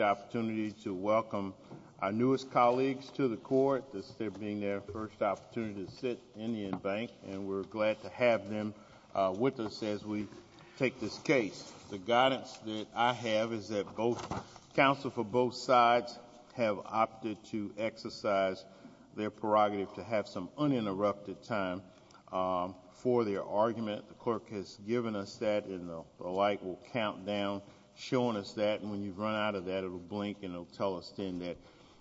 opportunity to welcome our newest colleagues to the court. This is their being their first opportunity to sit in the embank and we're glad to have them with us as we take this case. The guidance that I have is that both counsel for both sides have opted to exercise their prerogative to have some uninterrupted time for their argument. The clerk has given us that and the clerk has given us that. It will blink and it will tell us then that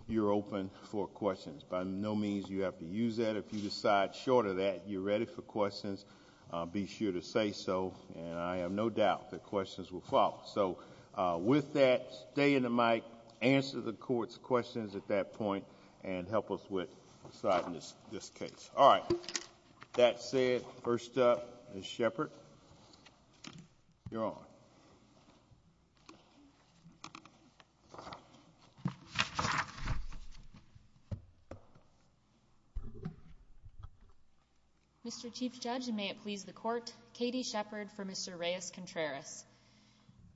you're open for questions. By no means you have to use that. If you decide short of that, you're ready for questions, be sure to say so and I have no doubt that questions will follow. So with that, stay in the mic, answer the court's questions at that point and help us with deciding this case. All right, that said, first up is Mr. Chief Judge and may it please the court, Katie Shepard for Mr. Reyes-Contreras.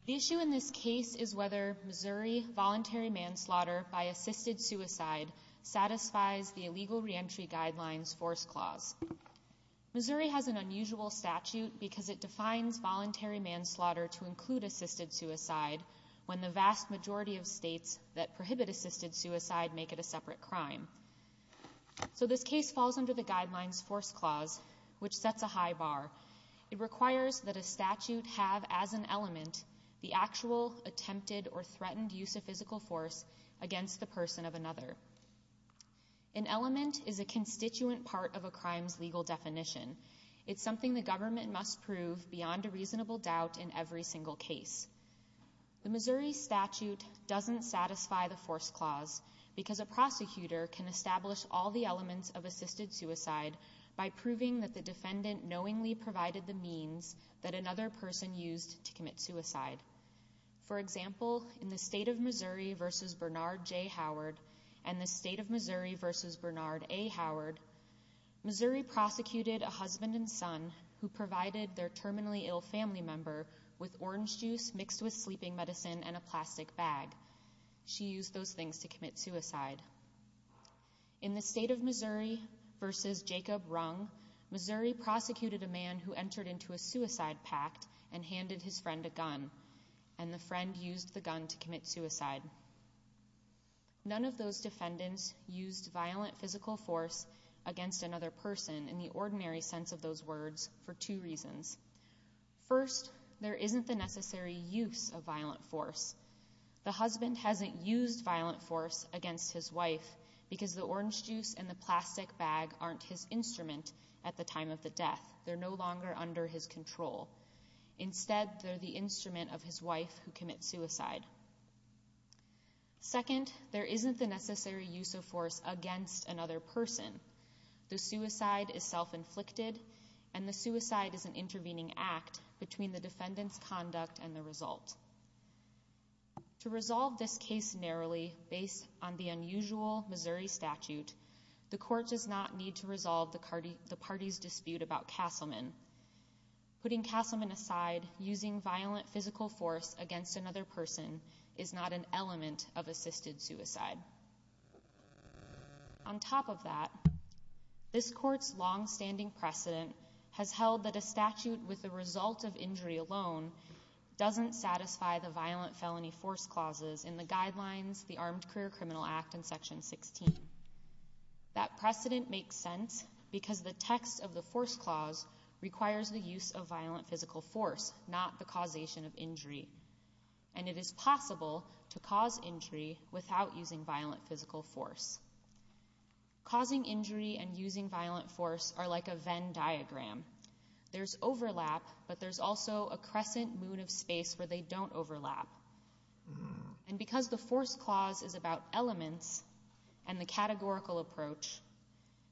The issue in this case is whether Missouri voluntary manslaughter by assisted suicide satisfies the illegal reentry guidelines force clause. Missouri has an unusual statute because it defines voluntary manslaughter to states that prohibit assisted suicide make it a separate crime. So this case falls under the guidelines force clause which sets a high bar. It requires that a statute have as an element the actual attempted or threatened use of physical force against the person of another. An element is a constituent part of a crime's legal definition. It's something the government must prove beyond a The Missouri statute doesn't satisfy the force clause because a prosecutor can establish all the elements of assisted suicide by proving that the defendant knowingly provided the means that another person used to commit suicide. For example, in the state of Missouri versus Bernard J. Howard and the state of Missouri versus Bernard A. Howard, Missouri prosecuted a husband and son who provided their terminally ill family member with orange juice mixed with sleeping medicine and a plastic bag. She used those things to commit suicide. In the state of Missouri versus Jacob Rung, Missouri prosecuted a man who entered into a suicide pact and handed his friend a gun and the friend used the gun to commit suicide. None of those defendants used violent physical force against another person in the ordinary sense of those words for two reasons. First, there isn't the necessary use of violent force. The husband hasn't used violent force against his wife because the orange juice and the plastic bag aren't his instrument at the time of the death. They're no longer under his control. Instead, they're the instrument of his wife who commits suicide. Second, there isn't the necessary use of force against another person. The suicide is self-inflicted and the suicide is an intervening act between the defendant's conduct and the result. To resolve this case narrowly based on the unusual Missouri statute, the court does not need to resolve the party's dispute about Castleman. Putting Castleman aside, using violent physical force against another person is not an element of assisted suicide. On top of that, this court's long-standing precedent has held that a statute with the result of injury alone doesn't satisfy the violent felony force clauses in the guidelines the Armed Career Criminal Act and Section 16. That precedent makes sense because the text of the force clause requires the use of violent physical force, not the causation of injury. And it is possible to cause injury without using violent physical force. Causing injury and using violent force are like a Venn diagram. There's overlap, but there's also a crescent moon of space where they don't overlap. And because the force clause is about elements and the categorical approach,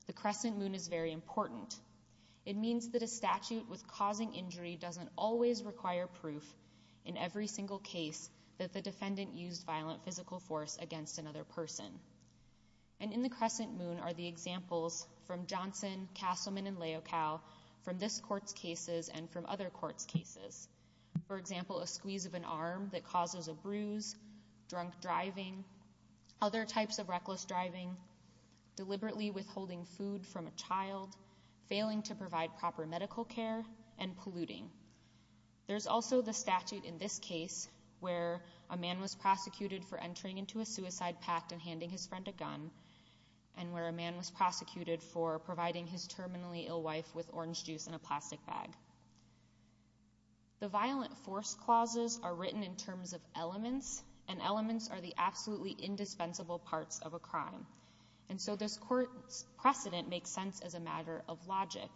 the crescent moon is very important. It means that a defendant can always require proof in every single case that the defendant used violent physical force against another person. And in the crescent moon are the examples from Johnson, Castleman, and Leocal from this court's cases and from other courts' cases. For example, a squeeze of an arm that causes a bruise, drunk driving, other types of reckless driving, deliberately withholding food from a child, failing to provide proper medical care, and polluting. There's also the statute in this case where a man was prosecuted for entering into a suicide pact and handing his friend a gun, and where a man was prosecuted for providing his terminally ill wife with orange juice in a plastic bag. The violent force clauses are written in terms of elements, and elements are the absolutely indispensable parts of a crime. And so this court's precedent makes sense as a matter of logic.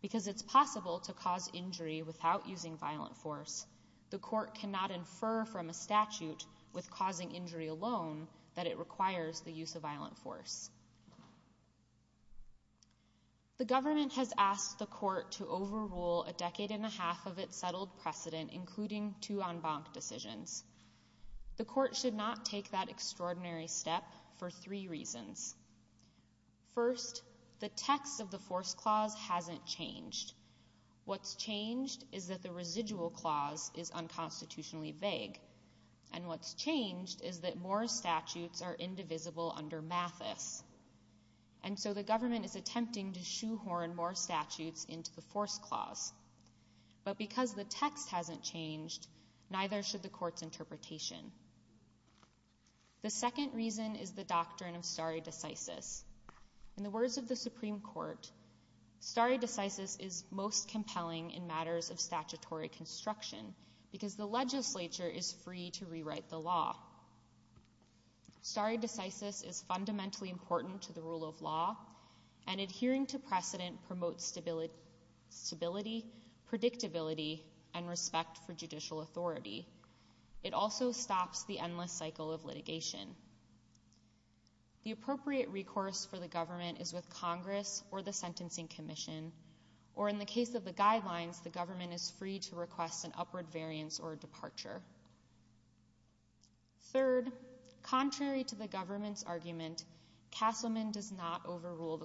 Because it's possible to cause injury without using violent force, the court cannot infer from a statute with causing injury alone that it requires the use of violent force. The government has asked the court to overrule a decade and a half of its settled precedent, including two en banc decisions. The court should not take that extraordinary step for three reasons. First, the text of the force clause hasn't changed. What's changed is that the residual clause is unconstitutionally vague, and what's changed is that more statutes are indivisible under Mathis. And so the government is attempting to shoehorn more statutes into the force clause. But because the text hasn't changed, neither should the court's interpretation. The second reason is the doctrine of stare decisis. In the words of the Supreme Court, stare decisis is most compelling in matters of statutory construction, because the legislature is free to rewrite the law. Stare decisis is fundamentally important to the rule of law, and adhering to predictability and respect for judicial authority. It also stops the endless cycle of litigation. The appropriate recourse for the government is with Congress or the Sentencing Commission, or in the case of the guidelines, the government is free to request an upward variance or a departure. Third, contrary to the government's argument, Castleman does not overrule the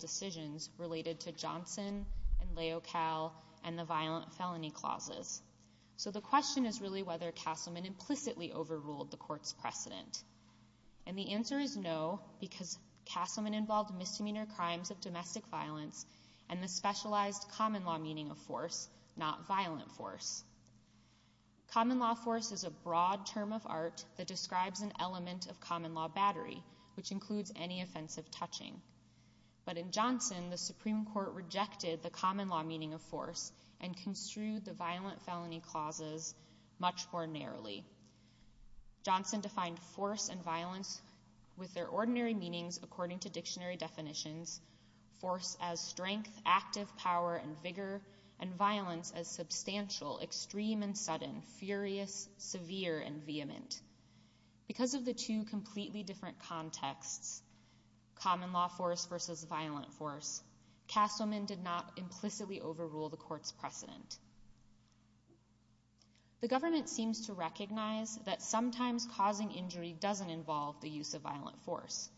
decisions related to Johnson and Leocal and the violent felony clauses. So the question is really whether Castleman implicitly overruled the court's precedent. And the answer is no, because Castleman involved misdemeanor crimes of domestic violence and the specialized common law meaning of force, not violent force. Common law force is a broad term of art that describes an element of violence. But in Johnson, the Supreme Court rejected the common law meaning of force and construed the violent felony clauses much more narrowly. Johnson defined force and violence with their ordinary meanings according to dictionary definitions, force as strength, active power and vigor, and violence as substantial, extreme and sudden, furious, severe and vehement. Because of the two different contexts, common law force versus violent force, Castleman did not implicitly overrule the court's precedent. The government seems to recognize that sometimes causing injury doesn't involve the use of violent force.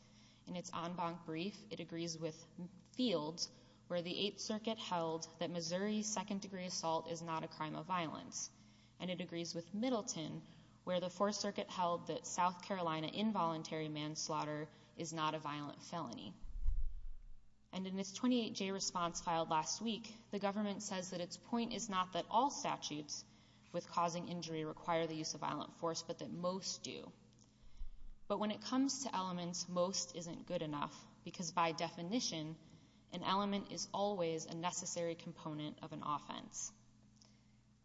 In its en banc brief, it agrees with Fields, where the Eighth Circuit held that Missouri's second-degree assault is not a crime of violence. And it agrees with Middleton, where the Fourth Circuit held that South Carolina involuntary manslaughter is not a violent felony. And in its 28-J response filed last week, the government says that its point is not that all statutes with causing injury require the use of violent force, but that most do. But when it comes to elements, most isn't good enough, because by definition, an element is always a necessary component of an offense.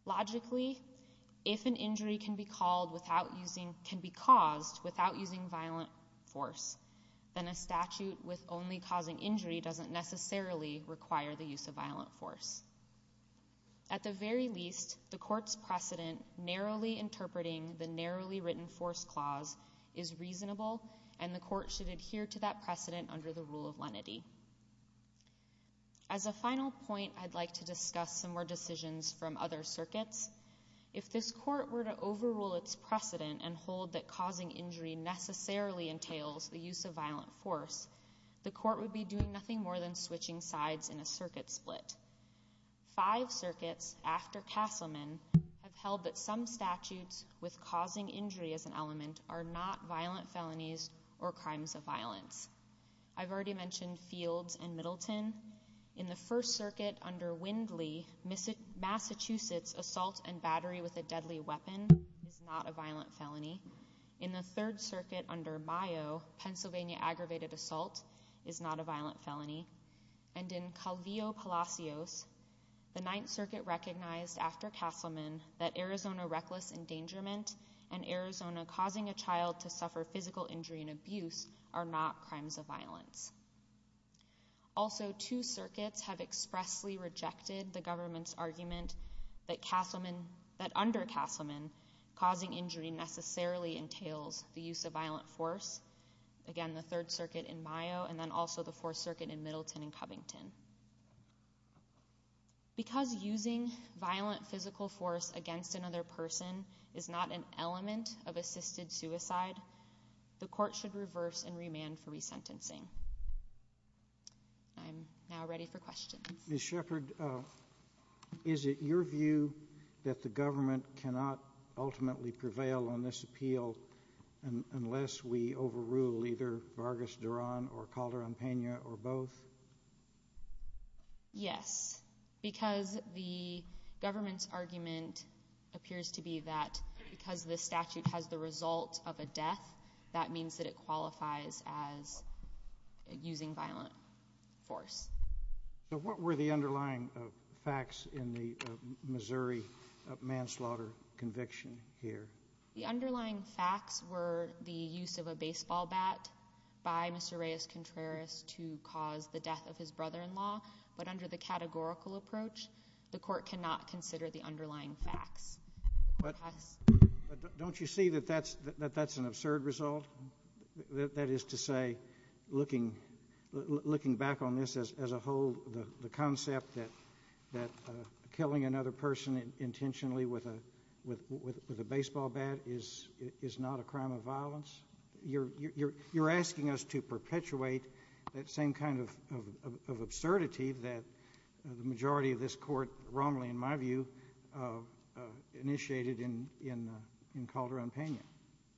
Logically, if an injury can be caused without using violent force, then a statute with only causing injury doesn't necessarily require the use of violent force. At the very least, the court's precedent narrowly interpreting the narrowly written force clause is reasonable, and the court should adhere to that precedent under the rule of lenity. As a final point, I'd like to discuss some more decisions from other circuits. If this court were to overrule its precedent and hold that causing injury necessarily entails the use of violent force, the court would be doing nothing more than switching sides in a circuit split. Five circuits, after Castleman, have held that some statutes with I've already mentioned Fields and Middleton. In the First Circuit under Windley, Massachusetts assault and battery with a deadly weapon is not a violent felony. In the Third Circuit under Mayo, Pennsylvania aggravated assault is not a violent felony. And in Calvillo-Palacios, the Ninth Circuit recognized after Castleman that Arizona reckless endangerment and Arizona causing a child to suffer physical injury and abuse are not crimes of violence. Also, two circuits have expressly rejected the government's argument that under Castleman, causing injury necessarily entails the use of violent force. Again, the Third Circuit in Mayo and then also the Fourth Circuit in Middleton and Covington. Because using violent physical force against another person is not an element of assisted suicide, the court should reverse and remand for resentencing. I'm now ready for questions. Ms. Shepherd, is it your view that the government cannot ultimately prevail on this appeal unless we overrule either Vargas, Duran or Calderon-Pena or both? Yes, because the government's argument appears to be that because this statute has the result of a death, that means that it qualifies as using violent force. So what were the underlying facts in the Missouri manslaughter conviction here? The underlying facts were the use of a baseball bat by Mr. Reyes-Contreras to cause the death of his brother-in-law, but under the categorical approach, the court cannot consider the underlying facts. Don't you see that that's an absurd result? That is to say, looking back on this as a whole, the concept that killing another person intentionally with a baseball bat is not a crime of violence? You're asking us to perpetuate that same kind of absurdity that the majority of this court wrongly, in my view, initiated in Calderon-Pena.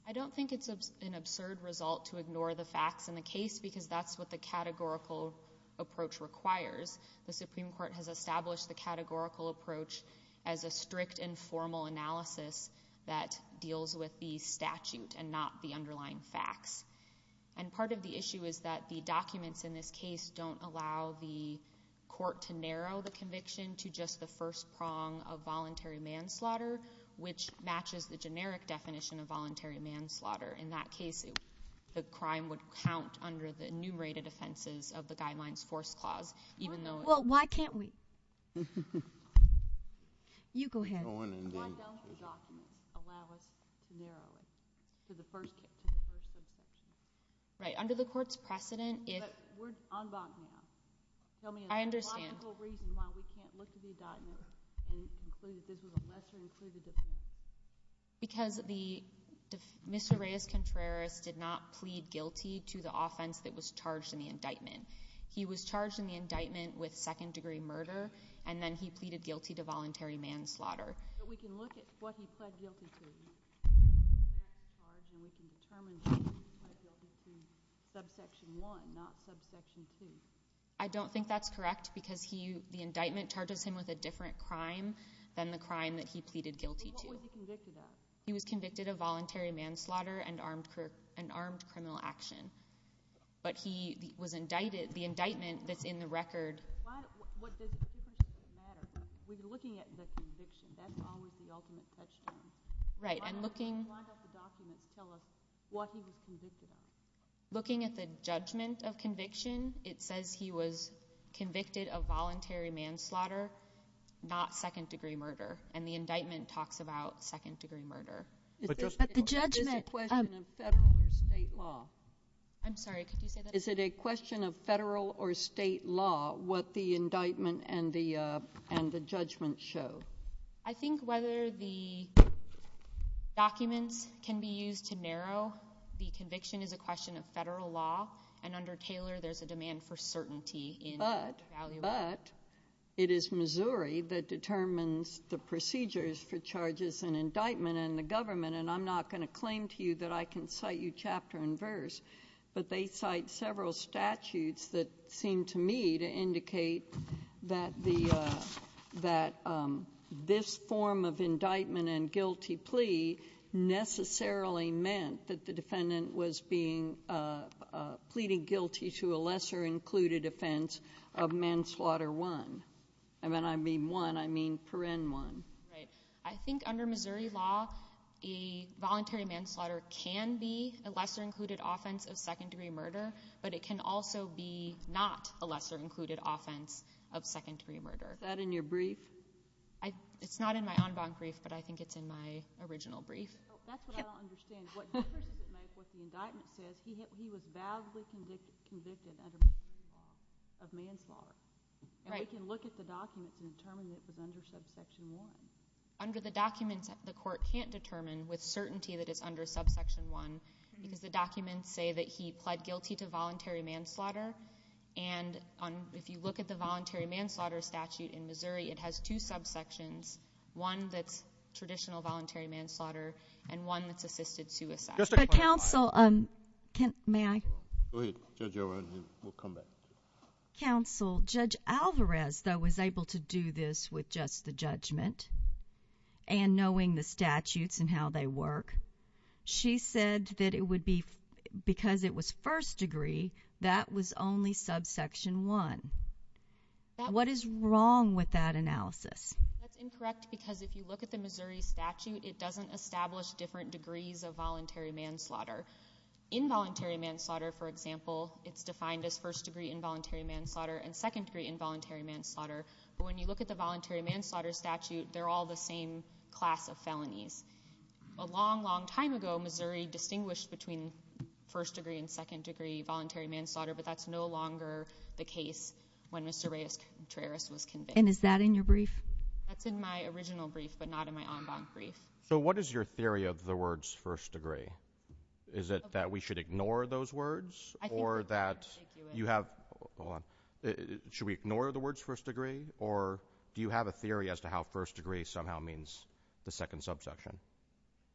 I don't think it's an absurd result to ignore the facts in the case because that's what the categorical approach requires. The Supreme Court has established the categorical approach as a strict and formal analysis that deals with the statute and not the underlying facts. And part of the issue is that the case don't allow the court to narrow the conviction to just the first prong of voluntary manslaughter, which matches the generic definition of voluntary manslaughter. In that case, the crime would count under the enumerated offenses of the Guidelines-Force Clause, even though— Well, why can't we— You go ahead. Go on, Indy. Why don't the documents allow us to narrow it to the first—to the first on Bachmann? Tell me a logical reason why we can't look at the indictment and conclude that this was a lesser-included offense. Because the mis hiraeus contraris did not plead guilty to the offense that was charged in the indictment. He was charged in the indictment with second-degree murder, and then he pleaded guilty to voluntary manslaughter. But we can look at what he pled guilty to. And we can determine that he pled guilty to subsection 1, not subsection 2. I don't think that's correct, because he—the indictment charges him with a different crime than the crime that he pleaded guilty to. But what was he convicted of? He was convicted of voluntary manslaughter and armed—an armed criminal action. But he was indicted—the indictment that's in the record— Why—what does it matter? We're looking at the conviction. That's always the ultimate touchstone. Right, and looking— Why don't the documents tell us what he was convicted of? Looking at the judgment of conviction, it says he was convicted of voluntary manslaughter, not second-degree murder. And the indictment talks about second-degree murder. But just— But the judgment— Is it a question of federal or state law? I'm sorry, could you say that again? Is it a question of federal or state law, what the indictment and the judgment show? I think whether the documents can be used to narrow the conviction is a question of federal law. And under Taylor, there's a demand for certainty in— But— —valuable— But it is Missouri that determines the procedures for charges in indictment and the government. And I'm not going to claim to you that I can cite you chapter and verse, but they cite several statutes that seem to me to indicate that this form of indictment and guilty plea necessarily meant that the defendant was pleading guilty to a lesser-included offense of manslaughter one. And when I mean one, I mean per-en one. Right. I think under Missouri law, a voluntary manslaughter can be a lesser-included offense of second-degree murder, but it can also be not a lesser-included offense of second-degree murder. Is that in your brief? It's not in my en banc brief, but I think it's in my original brief. Oh, that's what I don't understand. What difference does it make what the indictment says? He was vowsly convicted under Missouri law of manslaughter. Right. And we can look at the documents and determine that it was under subsection one. Under the documents, the court can't determine with certainty that it's under subsection one because the documents say that he pled guilty to voluntary manslaughter. And if you look at the voluntary manslaughter statute in Missouri, it has two subsections, one that's traditional voluntary manslaughter and one that's assisted suicide. But counsel, may I? Go ahead, Judge O'Rourke. We'll come back. Counsel, Judge Alvarez, though, was able to do this with just the judgment and knowing the statutes and how they work. She said that it would be because it was first degree, that was only subsection one. What is wrong with that analysis? That's incorrect because if you look at the Missouri statute, it doesn't establish different degrees of voluntary manslaughter. Involuntary manslaughter, for example, it's defined as first-degree involuntary manslaughter and second-degree involuntary manslaughter. But when you look at the voluntary manslaughter statute, they're all the same class of felonies. A long, long time ago, Missouri distinguished between first-degree and second-degree voluntary manslaughter, but that's no longer the case when Mr. Reyes-Contreras was convicted. And is that in your brief? That's in my original brief, but not in my en banc brief. So what is your theory of the words first degree? Is it that we should ignore those words or that you have... Do you have a theory as to how first degree somehow means the second subsection?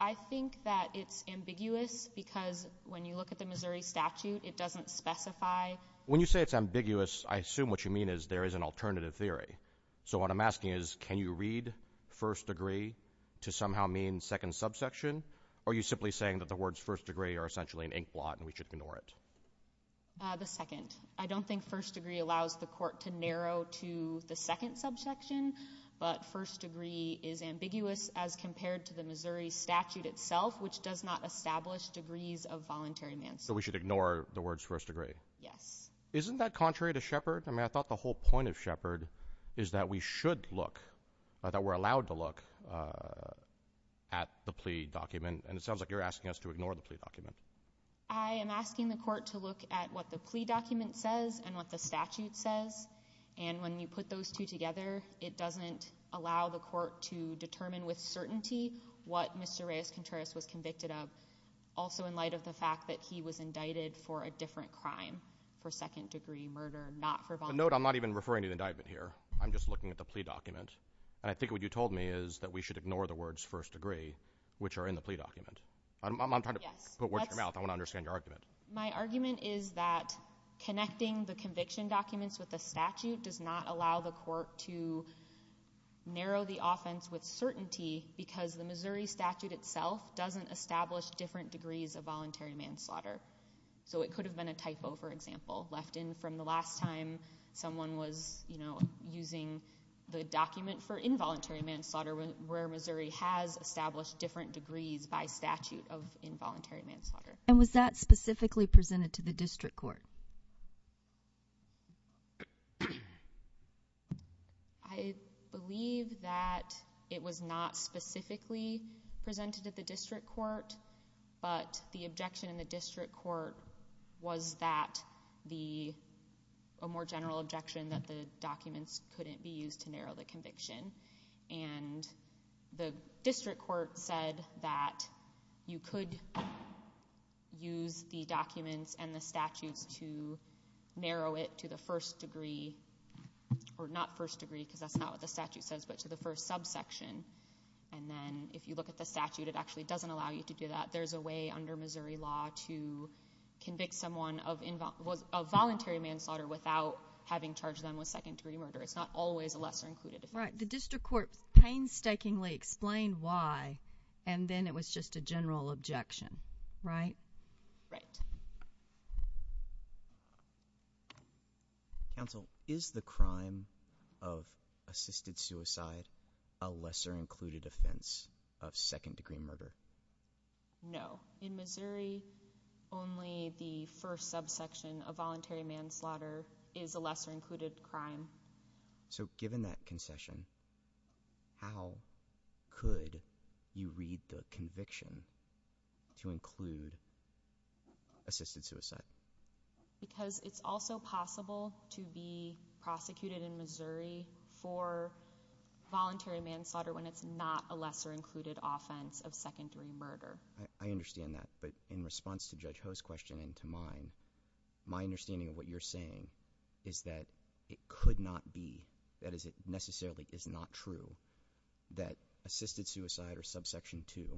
I think that it's ambiguous because when you look at the Missouri statute, it doesn't specify... When you say it's ambiguous, I assume what you mean is there is an alternative theory. So what I'm asking is, can you read first degree to somehow mean second subsection? Or are you simply saying that the words first degree are essentially an inkblot and we should ignore it? The second. I don't think first degree allows the court to narrow to the second subsection, but first degree is ambiguous as compared to the Missouri statute itself, which does not establish degrees of voluntary manslaughter. So we should ignore the words first degree? Yes. Isn't that contrary to Shepard? I mean, I thought the whole point of Shepard is that we should look, that we're allowed to look at the plea document. And it sounds like you're asking us to ignore the plea document. I am asking the court to look at what the plea document says and what the statute says. And when you put those two together, it doesn't allow the court to determine with certainty what Mr. Reyes-Contreras was convicted of. Also, in light of the fact that he was indicted for a different crime, for second degree murder, not for... Note, I'm not even referring to the indictment here. I'm just looking at the plea document. And I think what you told me is that we should ignore the words first degree, which are in the plea document. Yes. Watch your mouth. I want to understand your argument. My argument is that connecting the conviction documents with the statute does not allow the court to narrow the offense with certainty because the Missouri statute itself doesn't establish different degrees of voluntary manslaughter. So it could have been a typo, for example, left in from the last time someone was using the document for involuntary manslaughter where Missouri has established different degrees by statute of involuntary manslaughter. And was that specifically presented to the district court? I believe that it was not specifically presented at the district court, but the objection in the district court was that the... A more general objection that the documents couldn't be used to narrow the conviction. And the district court said that you could use the documents and the statutes to narrow it to the first degree or not first degree because that's not what the statute says, but to the first subsection. And then if you look at the statute, it actually doesn't allow you to do that. There's a way under Missouri law to convict someone of involuntary manslaughter without having charged them with second degree murder. It's not always a lesser included offense. The district court painstakingly explained why, and then it was just a general objection, right? Right. Counsel, is the crime of assisted suicide a lesser included offense of second degree murder? No. In Missouri, only the first subsection of voluntary manslaughter is a lesser included crime. So given that concession, how could you read the conviction to include assisted suicide? Because it's also possible to be prosecuted in Missouri for voluntary manslaughter when it's not a lesser included offense of second degree murder. I understand that, but in response to Judge Ho's question and to mine, my understanding of what you're saying is that it could not be, that is it necessarily is not true that assisted suicide or subsection two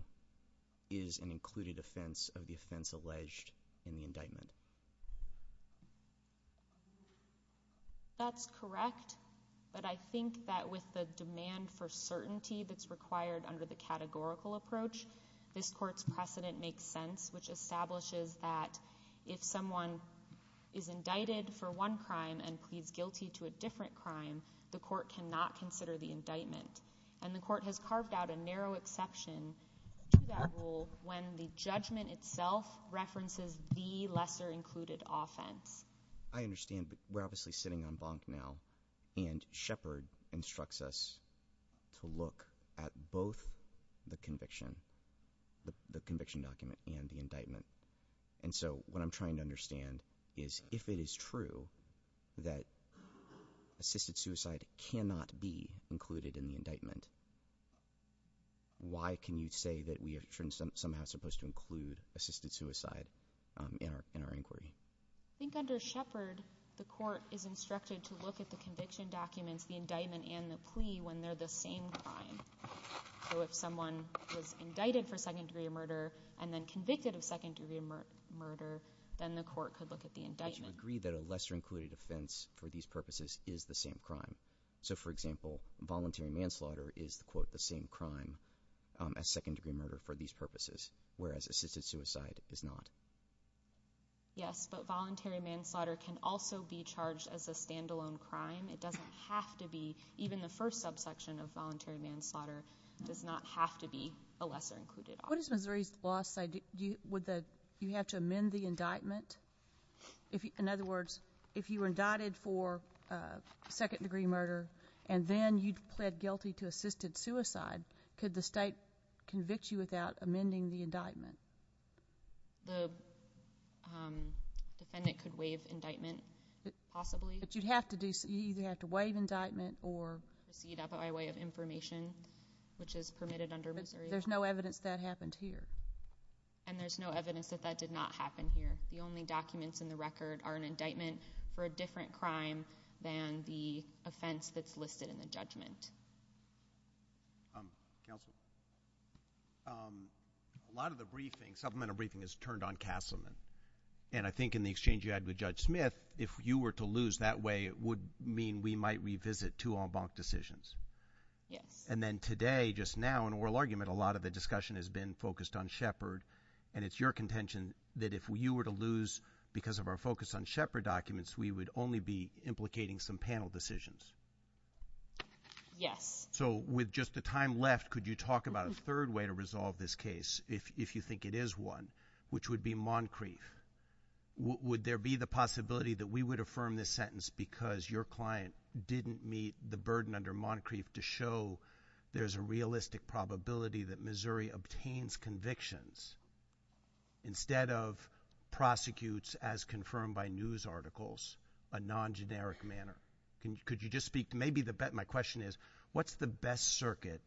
is an included offense of the offense alleged in the indictment. That's correct, but I think that with the demand for certainty that's required under the categorical approach, this court's precedent makes sense, which establishes that if someone is indicted for one crime and pleads guilty to a different crime, the court cannot consider the indictment. And the court has carved out a narrow exception to that rule when the judgment itself references the lesser included offense. I understand, but we're obviously sitting on bonk now, and Shepard instructs us to look at both the conviction, the conviction document and the indictment. And so what I'm trying to understand is if it is true that assisted suicide cannot be included in the indictment, why can you say that we are somehow supposed to include assisted suicide in our inquiry? I think under Shepard, the court is instructed to look at the conviction documents, the indictment and the plea when they're the same crime. So if someone was indicted for second degree murder and then convicted of second degree murder, then the court could look at the indictment. But you agree that a lesser included offense for these purposes is the same crime. So for example, voluntary manslaughter is, quote, the same crime as second degree murder for these purposes, whereas assisted suicide is not. Yes, but voluntary manslaughter can also be charged as a standalone crime. It doesn't have to be. Even the first subsection of voluntary manslaughter does not have to be a lesser included offense. What is Missouri's law, would you have to amend the indictment? In other words, if you were indicted for second degree murder and then you pled guilty to assisted suicide, could the state convict you without amending the indictment? The defendant could waive indictment, possibly. But you'd have to do, you'd either have to waive indictment or. Proceed out by way of information, which is permitted under Missouri. There's no evidence that happened here. And there's no evidence that that did not happen here. The only documents in the record are an indictment for a different crime than the offense that's listed in the judgment. Counsel, a lot of the briefing, supplemental briefing is turned on Castleman. And I think in the exchange you had with Judge Smith, if you were to lose that way, it would mean we might revisit two en banc decisions. Yes. And then today, just now in oral argument, a lot of the discussion has been focused on Shepard. And it's your contention that if you were to lose because of our focus on Shepard documents, we would only be implicating some panel decisions. Yes. So with just the time left, could you talk about a third way to resolve this case? If you think it is one, which would be Moncrief, would there be the possibility that we would affirm this sentence because your client didn't meet the burden under Moncrief to show there's a realistic probability that Missouri obtains convictions instead of prosecutes as confirmed by news articles, a non-generic manner? Could you just speak to maybe the, my question is, what's the best circuit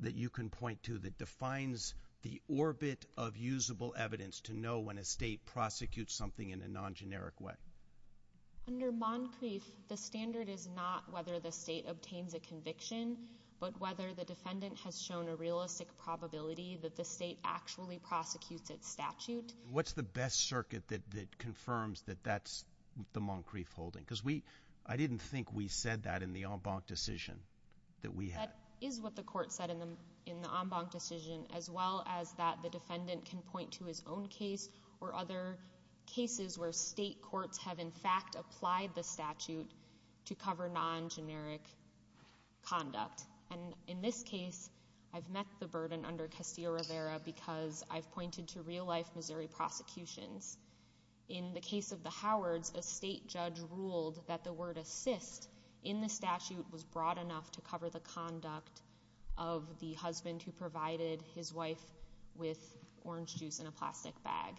that you can point to that defines the orbit of usable evidence to know when a state prosecutes something in a non-generic way? Under Moncrief, the standard is not whether the state obtains a conviction, but whether the defendant has shown a realistic probability that the state actually prosecutes its statute. What's the best circuit that confirms that that's the Moncrief holding? Because we, I didn't think we said that in the en banc decision that we had. That is what the court said in the en banc decision, as well as that the defendant can point to his own case or other cases where state courts have in fact applied the statute to cover non-generic conduct. And in this case, I've met the burden under Castillo-Rivera because I've pointed to real life Missouri prosecutions. In the case of the Howards, a state judge ruled that the word assist in the statute was broad enough to cover the conduct of the husband who provided his wife with orange juice in a plastic bag.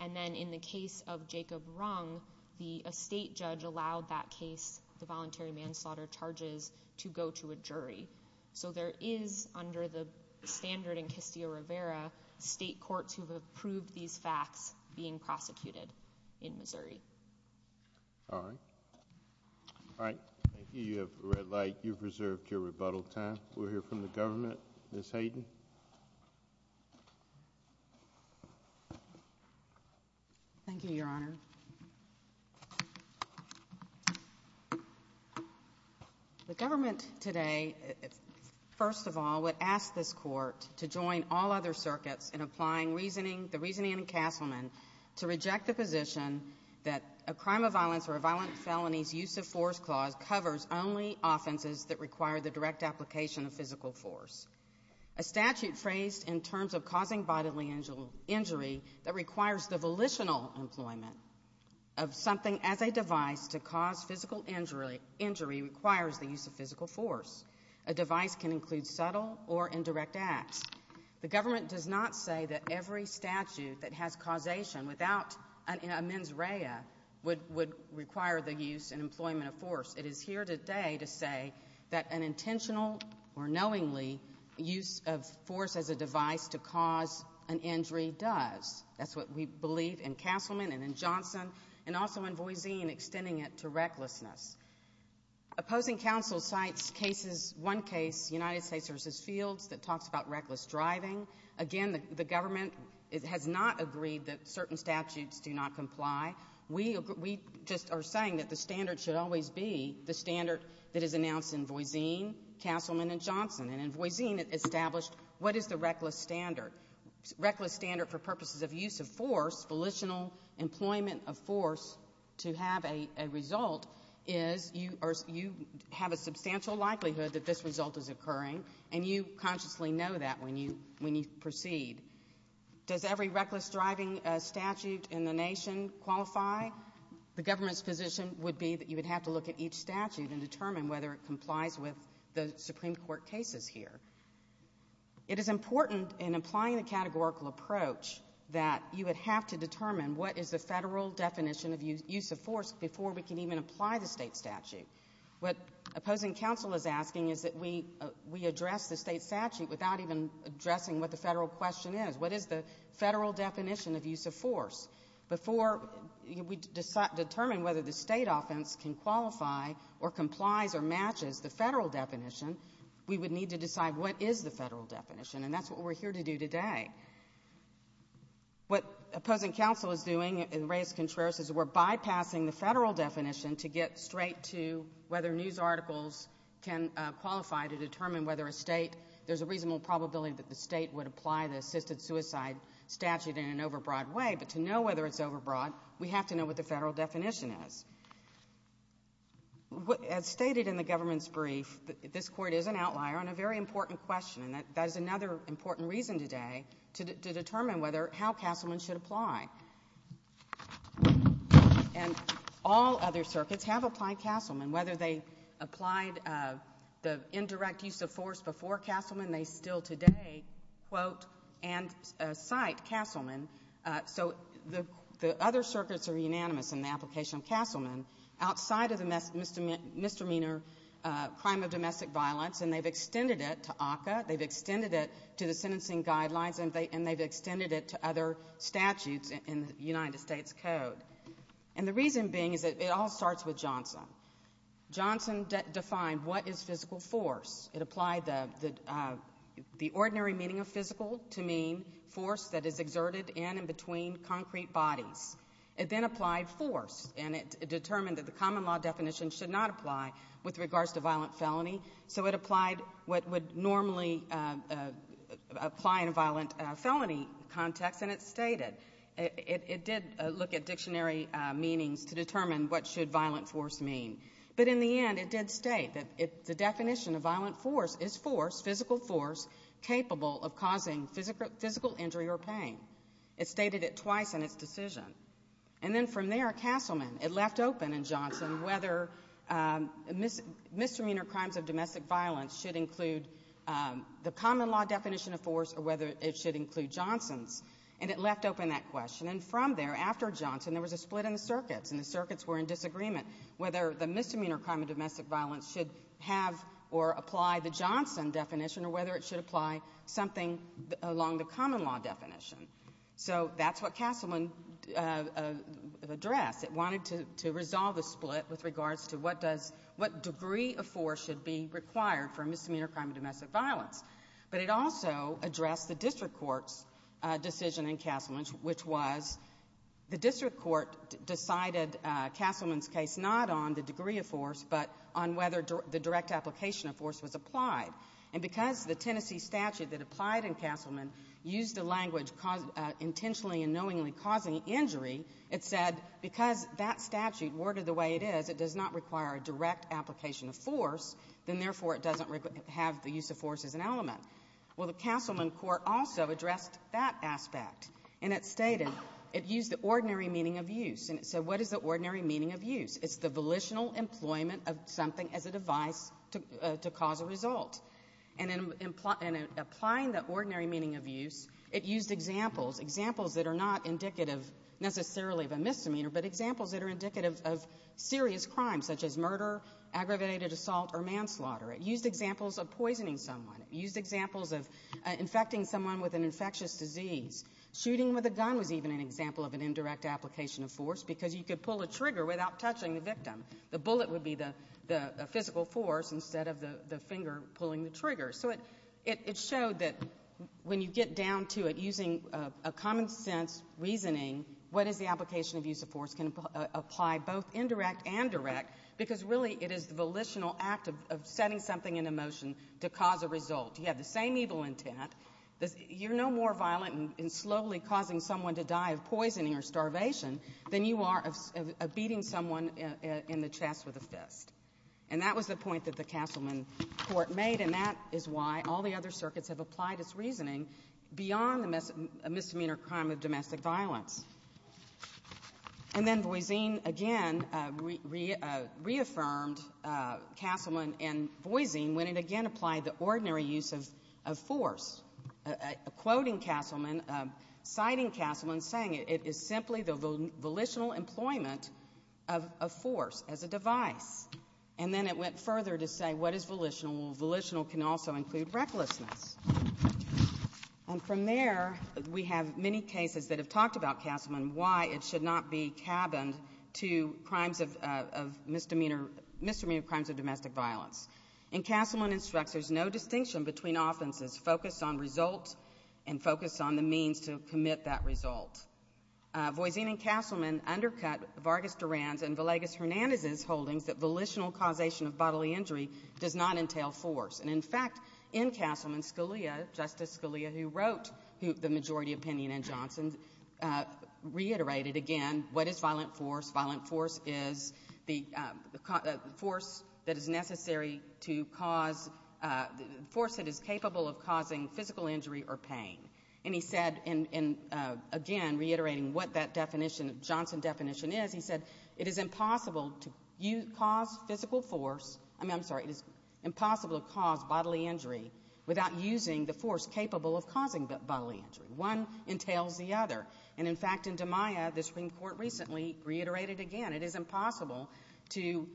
And then in the case of Jacob Rung, the state judge allowed that case, the voluntary manslaughter charges, to go to a jury. So there is, under the standard in Castillo-Rivera, state courts who have approved these facts All right. All right. Thank you. You have a red light. You've reserved your rebuttal time. We'll hear from the government. Ms. Hayden. Thank you, Your Honor. The government today, first of all, would ask this court to join all other circuits in applying the reasoning in Castleman to reject the position that a crime of violence or a violent felony's use of force clause covers only offenses that require the direct application of physical force. A statute phrased in terms of causing bodily injury that requires the volitional employment of something as a device to cause physical injury requires the use of physical force. A device can include subtle or indirect acts. The government does not say that every statute that has causation without a mens rea would require the use and employment of force. It is here today to say that an intentional or knowingly use of force as a device to cause an injury does. That's what we believe in Castleman and in Johnson and also in Voisine, extending it to recklessness. Opposing counsel cites cases, one case, United States v. Fields, that talks about reckless driving. Again, the government has not agreed that certain statutes do not comply. We just are saying that the standard should always be the standard that is announced in Voisine, Castleman, and Johnson. And in Voisine, it established what is the reckless standard. Reckless standard for purposes of use of force, volitional employment of force, to have a result is you have a substantial likelihood that this result is occurring and you consciously know that when you proceed. Does every reckless driving statute in the nation qualify? The government's position would be that you would have to look at each statute and determine whether it complies with the Supreme Court cases here. It is important in applying the categorical approach that you would have to determine what is the federal definition of use of force before we can even apply the state statute. What opposing counsel is asking is that we address the state statute without even addressing what the federal question is. What is the federal definition of use of force? Before we determine whether the state offense can qualify or complies or matches the federal definition, we would need to decide what is the federal definition. And that's what we're here to do today. What opposing counsel is doing, and Reyes-Contreras, is we're bypassing the federal definition to get straight to whether news articles can qualify to determine whether a state, there's a reasonable probability that the state would apply the assisted suicide statute in an overbroad way, but to know whether it's overbroad, we have to know what the federal definition is. As stated in the government's brief, this Court is an outlier on a very important question, and that is another important reason today to determine how Castleman should apply. And all other circuits have applied Castleman, whether they applied the indirect use of force before Castleman, they still today, quote, and cite Castleman. So the other circuits are unanimous in the application of Castleman outside of the misdemeanor crime of domestic violence, and they've extended it to ACCA, they've extended it to the sentencing guidelines, and they've extended it to other statutes in the United States Code. And the reason being is that it all starts with Johnson. Johnson defined what is physical force. It applied the ordinary meaning of physical to mean force that is exerted in and between concrete bodies. It then applied force, and it determined that the common law definition should not apply with regards to violent felony. So it applied what would normally apply in a violent felony context, and it stated, it did look at dictionary meanings to determine what should violent force mean. But in the end, it did state that the definition of violent force is force, physical force, capable of causing physical injury or pain. It stated it twice in its decision. And then from there, Castleman, it left open in Johnson whether misdemeanor crimes of domestic violence should include the common law definition of force or whether it should include Johnson's. And it left open that question. And from there, after Johnson, there was a split in the circuits, and the circuits were in disagreement whether the misdemeanor crime of domestic violence should have or apply the Johnson definition or whether it should apply something along the common law definition. So that's what Castleman addressed. It wanted to resolve the split with regards to what does, what degree of force should be required for misdemeanor crime of domestic violence. But it also addressed the district court's decision in Castleman's, which was the district court decided Castleman's case not on the degree of force but on whether the direct application of force was applied. And because the Tennessee statute that applied in Castleman used the language intentionally and knowingly causing injury, it said because that statute worded the way it is, it does not require a direct application of force, then therefore it doesn't have the use of force as an element. Well, the Castleman court also addressed that aspect. And it stated, it used the ordinary meaning of use. And it said what is the ordinary meaning of use? It's the volitional employment of something as a device to cause a result. And in applying the ordinary meaning of use, it used examples, examples that are not indicative necessarily of a misdemeanor, but examples that are indicative of serious crimes such as murder, aggravated assault, or manslaughter. It used examples of poisoning someone. It used examples of infecting someone with an infectious disease. Shooting with a gun was even an example of an indirect application of force because you could pull a trigger without touching the victim. The bullet would be the physical force instead of the finger pulling the trigger. So it showed that when you get down to it using a common sense reasoning, what is the application of use of force can apply both indirect and direct because really it is the volitional act of setting something in a motion to cause a result. You have the same evil intent. You're no more violent in slowly causing someone to die of poisoning or starvation than you are of beating someone in the chest with a fist. And that was the point that the Castleman court made, and that is why all the other circuits have applied its reasoning beyond a misdemeanor crime of domestic violence. And then Boisin again reaffirmed Castleman and Boisin when it again applied the ordinary use of force, quoting Castleman, citing Castleman, saying it is simply the volitional employment of force as a device. And then it went further to say, what is volitional? Well, volitional can also include recklessness. And from there, we have many cases that have talked about Castleman, why it should not be cabined to crimes of misdemeanor, misdemeanor crimes of domestic violence. And Castleman instructs there's no distinction between offenses focused on result and focused on the means to commit that result. Boisin and Castleman undercut Vargas Duran's and Villegas Hernandez's holdings that volitional causation of bodily injury does not entail force. And in fact, in Castleman, Scalia, Justice Scalia, who wrote the majority opinion in Johnson, reiterated again, what is violent force? Violent force is the force that is necessary to cause, the force that is capable of causing physical injury or pain. And he said, and again, reiterating what that definition, Johnson definition is, he said, it is impossible to cause physical force, I mean, I'm sorry, it is impossible to cause bodily injury without using the force capable of causing bodily injury. One entails the other. And in fact, in DiMaia, the Supreme Court recently reiterated again, it is impossible to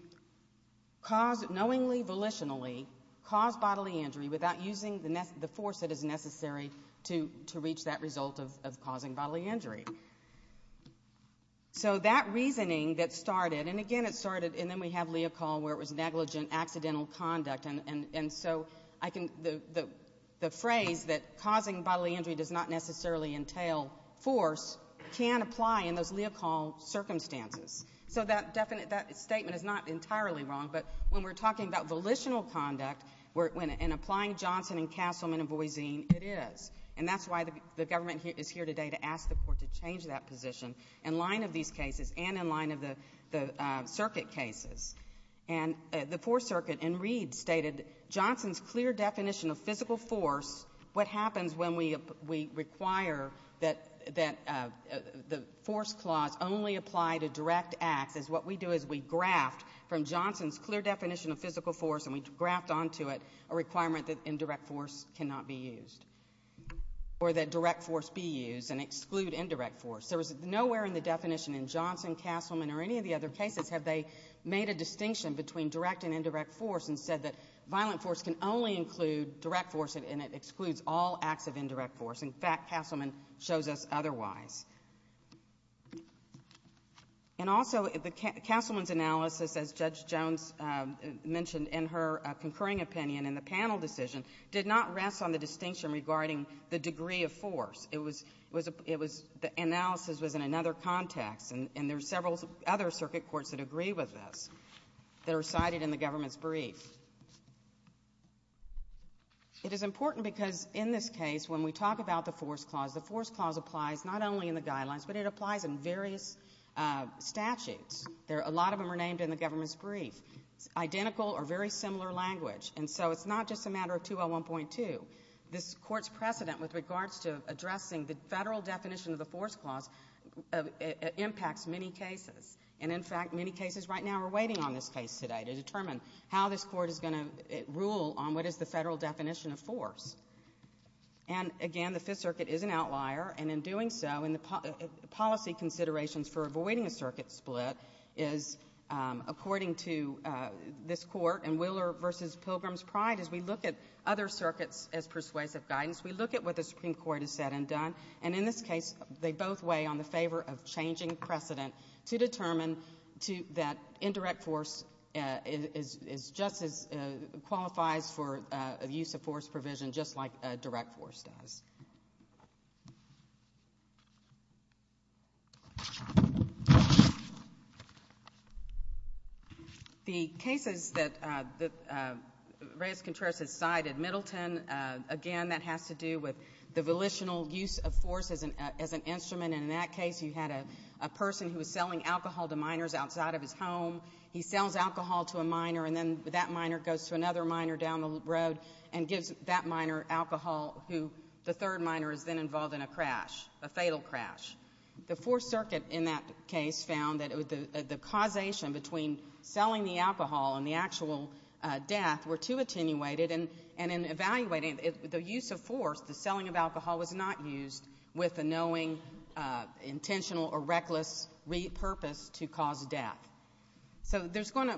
cause, knowingly, volitionally, cause bodily injury without using the force that is necessary to reach that result of causing bodily injury. So that reasoning that started, and again, it started, and then we have Leocal where it was negligent, accidental conduct. And so the phrase that causing bodily injury does not necessarily entail force can apply in those Leocal circumstances. So that statement is not entirely wrong. But when we're talking about volitional conduct, in applying Johnson in Castleman and Boise, it is. And that's why the government is here today to ask the court to change that position in line of these cases and in line of the circuit cases. And the Fourth Circuit in Reed stated, Johnson's clear definition of physical force, what happens when we require that the force clause only apply to direct acts is what we do is we graft from Johnson's clear definition of physical force and we graft onto it a requirement that indirect force cannot be used. Or that direct force be used and exclude indirect force. There was nowhere in the definition in Johnson, Castleman, or any of the other cases have they made a distinction between direct and indirect force and said that violent force can only include direct force and it excludes all acts of indirect force. In fact, Castleman shows us otherwise. And also, Castleman's analysis, as Judge Jones mentioned in her concurring opinion in the panel decision, did not rest on the distinction regarding the degree of force. The analysis was in another context. And there are several other circuit courts that agree with this that are cited in the government's brief. It is important because in this case, when we talk about the force clause, the force clause applies not only in the guidelines, but it applies in various statutes. A lot of them are named in the government's brief. Identical or very similar language. And so it's not just a matter of 201.2. This court's precedent with regards to addressing the federal definition of the force clause impacts many cases. And in fact, many cases right now are waiting on this case today to determine how this court is going to rule on what is the federal definition of force. And again, the Fifth Circuit is an outlier. And in doing so, in the policy considerations for avoiding a circuit split is, according to this court and Willer v. Pilgrim's Pride, as we look at other circuits as persuasive And in this case, they both weigh on the favor of changing precedent to determine that indirect force qualifies for use of force provision just like a direct force does. The cases that Reyes-Contreras has cited, Middleton, again, that has to do with the use of force as an instrument. And in that case, you had a person who was selling alcohol to minors outside of his home. He sells alcohol to a minor, and then that minor goes to another minor down the road and gives that minor alcohol who the third minor is then involved in a crash, a fatal crash. The Fourth Circuit in that case found that the causation between selling the alcohol and the actual death were too attenuated. And in evaluating the use of force, the selling of alcohol was not used with a knowing, intentional, or reckless repurpose to cause death. So there's going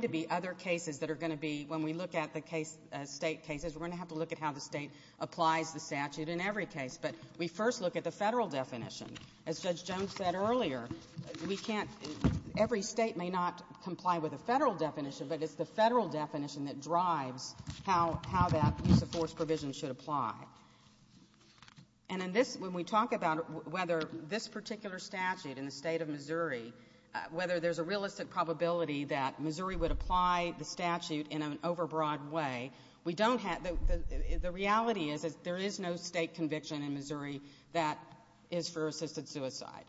to be other cases that are going to be, when we look at the state cases, we're going to have to look at how the state applies the statute in every case. But we first look at the federal definition. As Judge Jones said earlier, every state may not comply with a federal definition, but it's the federal definition that drives how that use of force provision should apply. And when we talk about whether this particular statute in the state of Missouri, whether there's a realistic probability that Missouri would apply the statute in an overbroad way, the reality is that there is no state conviction in Missouri that is for assisted suicide.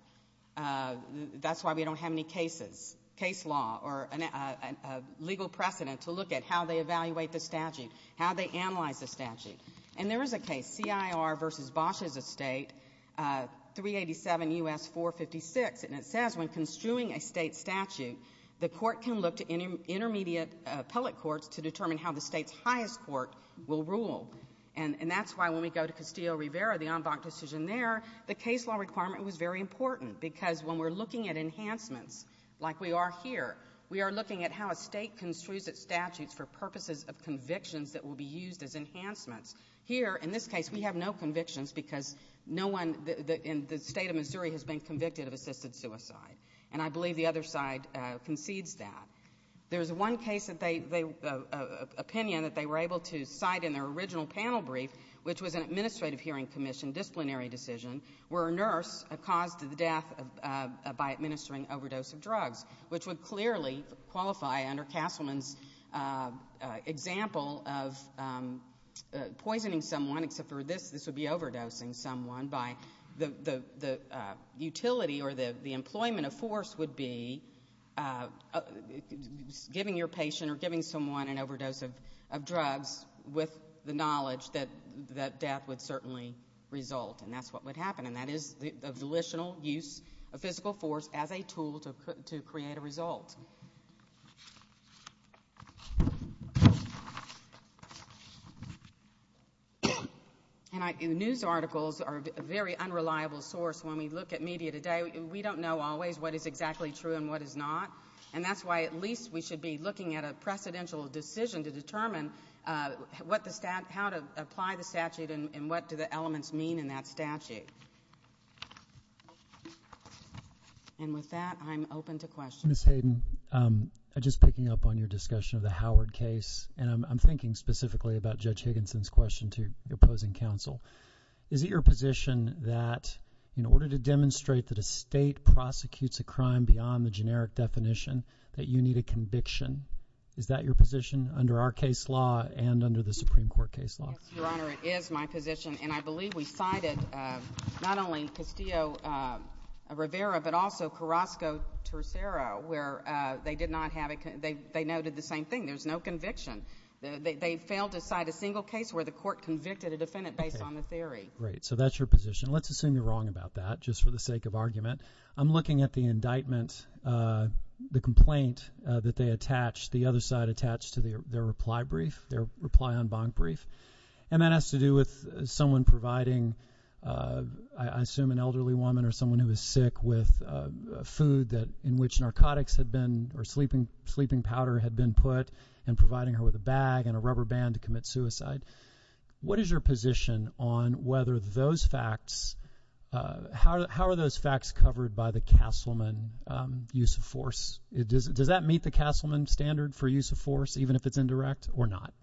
That's why we don't have any cases, case law, or a legal precedent to look at how they evaluate the statute, how they analyze the statute. And there is a case, CIR v. Bosh's Estate, 387 U.S. 456. And it says when construing a state statute, the court can look to intermediate appellate courts to determine how the state's highest court will rule. And that's why when we go to Castillo-Rivera, the en banc decision there, the case law requirement was very important. Because when we're looking at enhancements, like we are here, we are looking at how a state construes its statutes for purposes of convictions that will be used as enhancements. Here, in this case, we have no convictions because no one in the state of Missouri has been convicted of assisted suicide. And I believe the other side concedes that. There's one opinion that they were able to cite in their original panel brief, which was that there was a force caused to the death by administering overdose of drugs, which would clearly qualify under Castleman's example of poisoning someone. Except for this, this would be overdosing someone. By the utility or the employment of force would be giving your patient or giving someone an overdose of drugs with the knowledge that death would certainly result. And that's what would happen. And that is the volitional use of physical force as a tool to create a result. And news articles are a very unreliable source when we look at media today. We don't know always what is exactly true and what is not. And that's why at least we should be looking at a precedential decision to determine how to apply the statute and what do the elements mean in that statute. And with that, I'm open to questions. Ms. Hayden, just picking up on your discussion of the Howard case, and I'm thinking specifically about Judge Higginson's question to your opposing counsel. Is it your position that in order to demonstrate that a state prosecutes a crime beyond the generic definition, that you need a conviction? Is that your position under our case law and under the Supreme Court case law? Yes, Your Honor, it is my position. And I believe we cited not only Castillo-Rivera, but also Carrasco-Tercero, where they did not have a—they noted the same thing. There's no conviction. They failed to cite a single case where the court convicted a defendant based on the theory. Great. So that's your position. Let's assume you're wrong about that, just for the sake of argument. I'm looking at the indictment, the complaint that they attached, the other side attached to their reply brief, their reply en banc brief. And that has to do with someone providing, I assume an elderly woman or someone who is sick, with food that—in which narcotics had been—or sleeping powder had been put and providing her with a bag and a rubber band to commit suicide. What is your position on whether those facts—how are those facts covered by the Castleman use of force? Does that meet the Castleman standard for use of force, even if it's indirect, or not?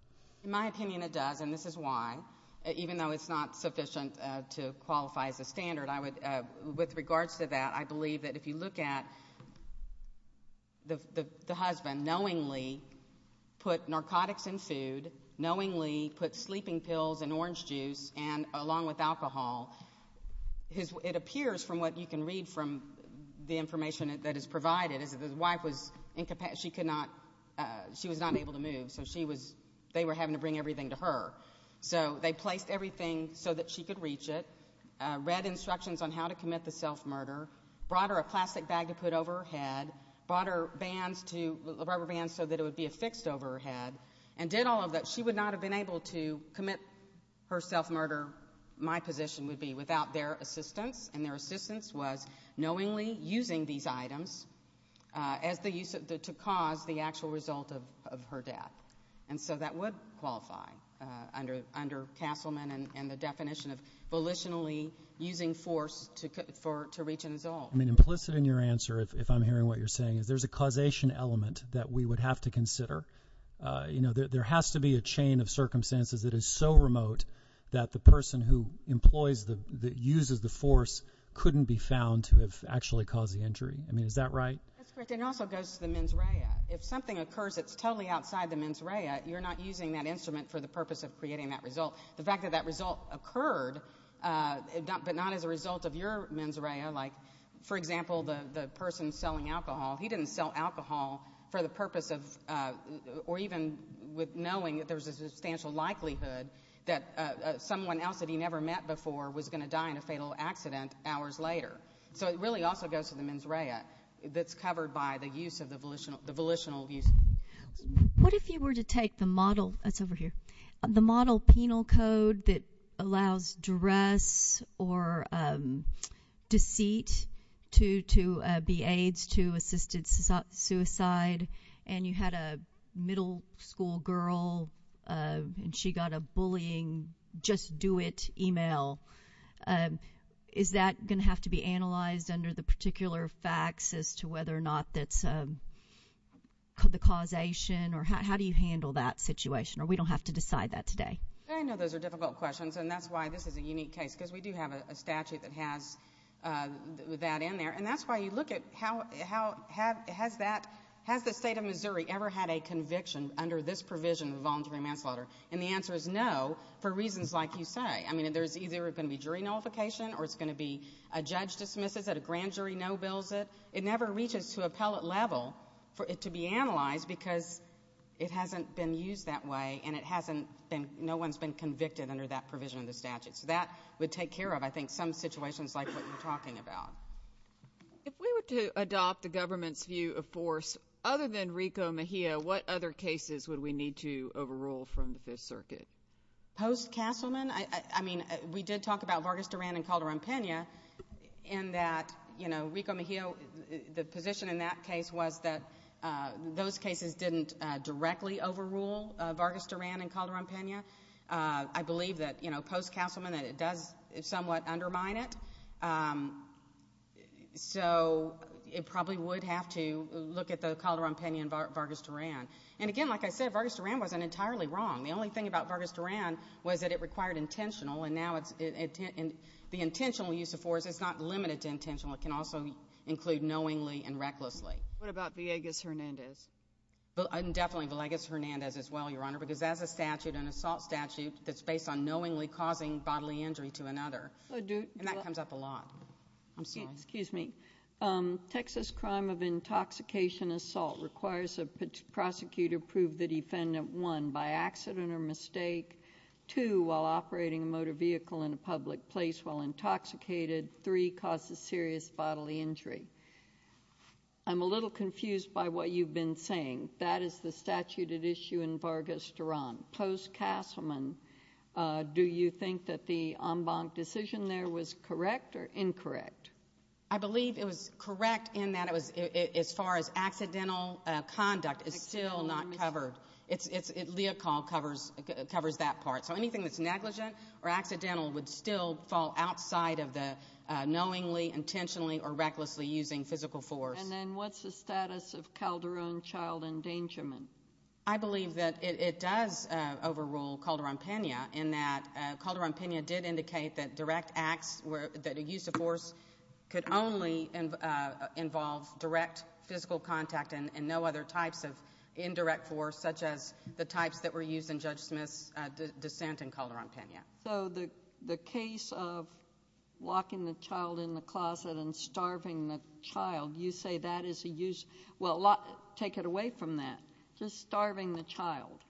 In my opinion, it does, and this is why. Even though it's not sufficient to qualify as a standard, I would—with regards to that, I believe that if you look at the husband knowingly put narcotics and food, knowingly put sleeping pills and orange juice, and along with alcohol, his—it appears, from what you can read from the information that is provided, is that his wife was—she could not—she was not able to move. So she was—they were having to bring everything to her. So they placed everything so that she could reach it, read instructions on how to commit the self-murder, brought her a plastic bag to put over her head, brought her bands to—rubber bands so that it would be affixed over her head, and did all of that. She would not have been able to commit her self-murder, my position would be, without their assistance, and their assistance was knowingly using these items as the use of—to cause the actual result of her death. And so that would qualify under Castleman and the definition of volitionally using force to reach an assault. I mean, implicit in your answer, if I'm hearing what you're saying, is there's a causation element that we would have to consider. You know, there has to be a chain of circumstances that is so remote that the person who employs the—that uses the force couldn't be found to have actually caused the injury. I mean, is that right? That's correct. And it also goes to the mens rea. If something occurs that's totally outside the mens rea, you're not using that instrument for the purpose of creating that result. The fact that that result occurred, but not as a result of your mens rea, like, for example, the person selling alcohol, he didn't sell alcohol for the purpose of—or even with knowing that there was a substantial likelihood that someone else that he never met before was going to die in a fatal accident hours later. So it really also goes to the mens rea that's covered by the use of the volitional—the volitional use. What if you were to take the model—that's over here—the model penal code that allows duress or deceit to be aides to assisted suicide, and you had a middle school girl and she got a bullying, just do it email. Is that going to have to be analyzed under the particular facts as to whether or not that's the causation? Or how do you handle that situation? Or we don't have to decide that today? I know those are difficult questions, and that's why this is a unique case, because we do have a statute that has that in there. And that's why you look at how—has that—has the state of Missouri ever had a conviction under this provision of voluntary manslaughter? And the answer is no, for reasons like you say. There's either going to be jury nullification, or it's going to be a judge dismisses it, a grand jury no-bills it. It never reaches to appellate level for it to be analyzed because it hasn't been used that way, and it hasn't been—no one's been convicted under that provision of the So that would take care of, I think, some situations like what you're talking about. If we were to adopt the government's view of force, other than Rico Mejia, what other cases would we need to overrule from the Fifth Circuit? Post-Castleman, I mean, we did talk about Vargas Duran and Calderon-Pena in that, you know, Rico Mejia, the position in that case was that those cases didn't directly overrule Vargas Duran and Calderon-Pena. I believe that, you know, post-Castleman, that it does somewhat undermine it. So it probably would have to look at the Calderon-Pena and Vargas Duran. And again, like I said, Vargas Duran wasn't entirely wrong. The only thing about Vargas Duran was that it required intentional, and now the intentional use of force, it's not limited to intentional. It can also include knowingly and recklessly. What about Villegas-Hernandez? Definitely Villegas-Hernandez as well, Your Honor, because that's a statute, an assault statute, that's based on knowingly causing bodily injury to another. And that comes up a lot. I'm sorry. Excuse me. Texas crime of intoxication assault requires a prosecutor prove the defendant, one, by accident or mistake, two, while operating a motor vehicle in a public place while intoxicated, three, caused a serious bodily injury. I'm a little confused by what you've been saying. That is the statute at issue in Vargas Duran. Post-Castleman, do you think that the en banc decision there was correct or incorrect? I believe it was correct in that it was, as far as accidental conduct is still not covered. Leocal covers that part. So anything that's negligent or accidental would still fall outside of the knowingly, intentionally, or recklessly using physical force. And then what's the status of Calderon child endangerment? I believe that it does overrule Calderon-Pena in that Calderon-Pena did indicate that direct use of force could only involve direct physical contact and no other types of indirect force, such as the types that were used in Judge Smith's dissent in Calderon-Pena. So the case of locking the child in the closet and starving the child, you say that is a use—well, take it away from that. Just starving the child.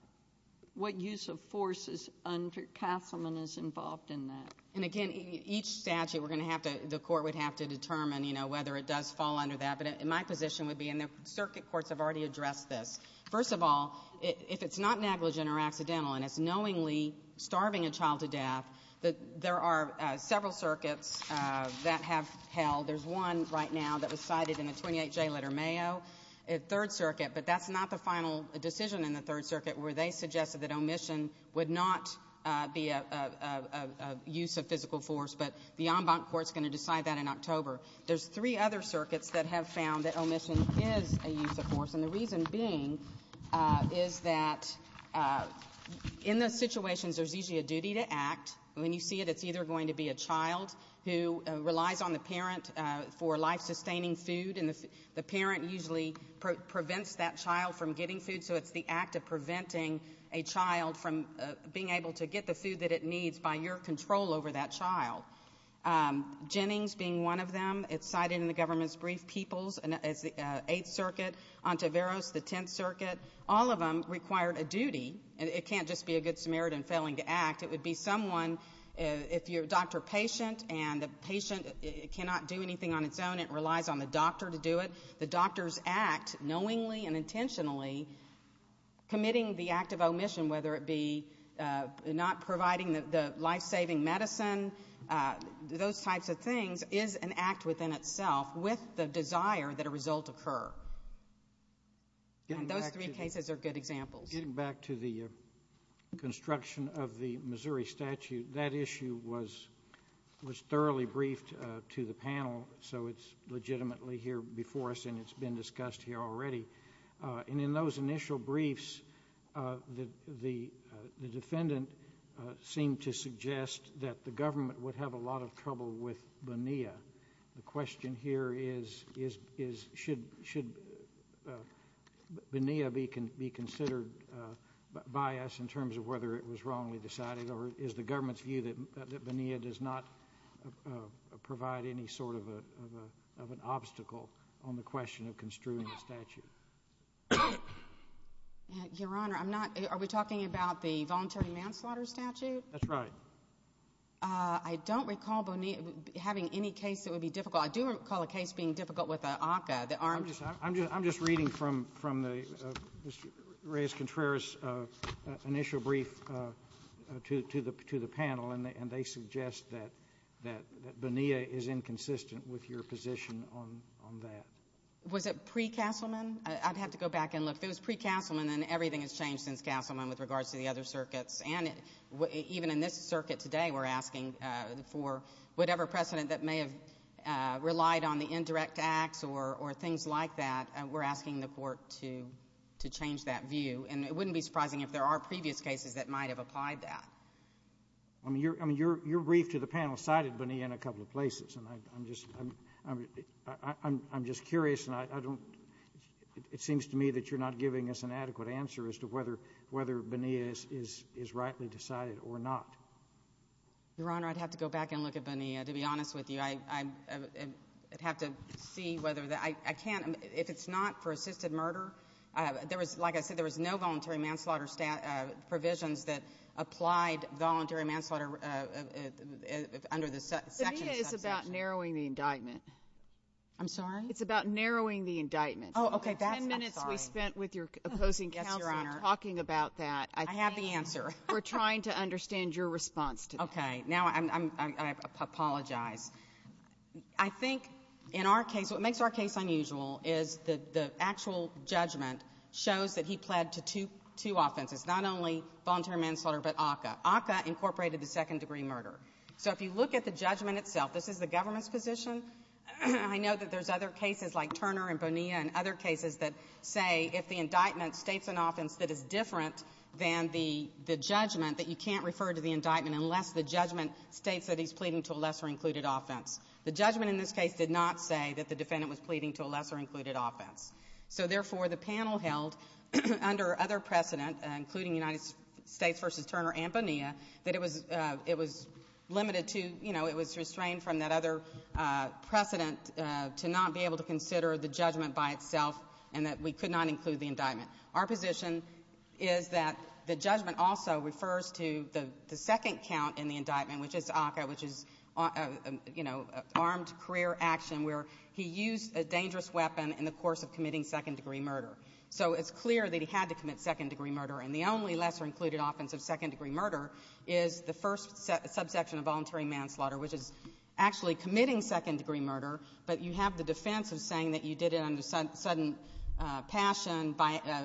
What use of force is under Castleman is involved in that? And again, each statute we're going to have to—the court would have to determine, you know, whether it does fall under that. But my position would be—and the circuit courts have already addressed this. First of all, if it's not negligent or accidental and it's knowingly starving a child to death, there are several circuits that have held. There's one right now that was cited in the 28-J letter, Mayo, Third Circuit. But that's not the final decision in the Third Circuit where they suggested that omission would not be a use of physical force. But the en banc court is going to decide that in October. There's three other circuits that have found that omission is a use of force. And the reason being is that in those situations, there's usually a duty to act. When you see it, it's either going to be a child who relies on the parent for life-sustaining food, and the parent usually prevents that child from getting food. So it's the act of preventing a child from being able to get the food that it needs by your control over that child. Jennings being one of them. It's cited in the government's brief. Peoples is the Eighth Circuit. Ontiveros, the Tenth Circuit. All of them required a duty. It can't just be a good Samaritan failing to act. It would be someone—if you're a doctor-patient and the patient cannot do anything on its own, it relies on the doctor to do it. The doctor's act, knowingly and intentionally, committing the act of omission, whether it be not providing the life-saving medicine, those types of things, is an act within itself with the desire that a result occur. Those three cases are good examples. Getting back to the construction of the Missouri statute, that issue was thoroughly briefed to the panel, so it's legitimately here before us and it's been discussed here already. And in those initial briefs, the defendant seemed to suggest that the government would have a lot of trouble with Bonilla. The question here is, should Bonilla be considered by us in terms of whether it was wrongly constructed, or should we provide any sort of an obstacle on the question of construing the statute? Your Honor, I'm not—are we talking about the voluntary manslaughter statute? That's right. I don't recall Bonilla having any case that would be difficult. I do recall a case being difficult with the ACCA, the armed— I'm just reading from the—Mr. Reyes-Contreras' initial brief to the panel, and they suggest that Bonilla is inconsistent with your position on that. Was it pre-Castleman? I'd have to go back and look. If it was pre-Castleman, then everything has changed since Castleman with regards to the other circuits. And even in this circuit today, we're asking for whatever precedent that may have relied on the indirect acts or things like that, we're asking the court to change that view. And it wouldn't be surprising if there are previous cases that might have applied that. I mean, your brief to the panel cited Bonilla in a couple of places, and I'm just curious, and I don't—it seems to me that you're not giving us an adequate answer as to whether Bonilla is rightly decided or not. Your Honor, I'd have to go back and look at Bonilla, to be honest with you. I'd have to see whether—I can't—if it's not for assisted murder, there was—like voluntary manslaughter under the section— Bonilla is about narrowing the indictment. I'm sorry? It's about narrowing the indictment. Oh, okay. That's—I'm sorry. Ten minutes we spent with your opposing counsel talking about that. I have the answer. We're trying to understand your response to that. Okay. Now, I apologize. I think in our case, what makes our case unusual is that the actual judgment shows that he was not involved in a voluntary manslaughter, but ACCA. ACCA incorporated the second-degree murder. So if you look at the judgment itself, this is the government's position. I know that there's other cases like Turner and Bonilla and other cases that say if the indictment states an offense that is different than the judgment, that you can't refer to the indictment unless the judgment states that he's pleading to a lesser-included offense. The judgment in this case did not say that the defendant was pleading to a lesser-included offense. So therefore, the panel held under other precedent, including United States v. Turner and Bonilla, that it was—it was limited to—you know, it was restrained from that other precedent to not be able to consider the judgment by itself and that we could not include the indictment. Our position is that the judgment also refers to the second count in the indictment, which is ACCA, which is, you know, armed career action where he used a dangerous weapon in the course of committing second-degree murder. So it's clear that he had to commit second-degree murder, and the only lesser-included offense of second-degree murder is the first subsection of voluntary manslaughter, which is actually committing second-degree murder, but you have the defense of saying that you did it under sudden passion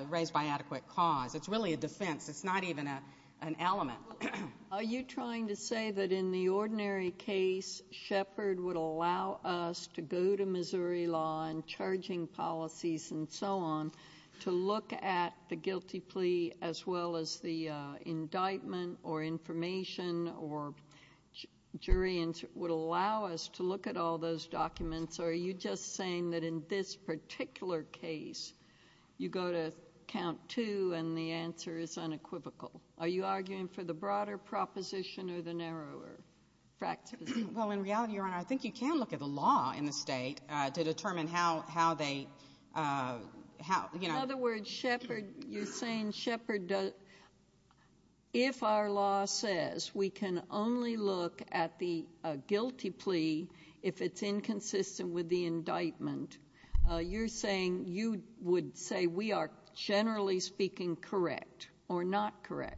raised by adequate cause. It's really a defense. It's not even an element. JUSTICE SOTOMAYOR. Are you trying to say that in the ordinary case, Shepard would allow us to go to Missouri law and charging policies and so on to look at the guilty plea as well as the indictment or information or jury, and would allow us to look at all those documents, or are you just saying that in this particular case, you go to count two and the answer is unequivocal? Are you arguing for the broader proposition or the narrower practice? MS. SOTOMAYOR. In other words, Shepard, you're saying Shepard, if our law says we can only look at the guilty plea if it's inconsistent with the indictment, you're saying you would say we are, generally speaking, correct or not correct?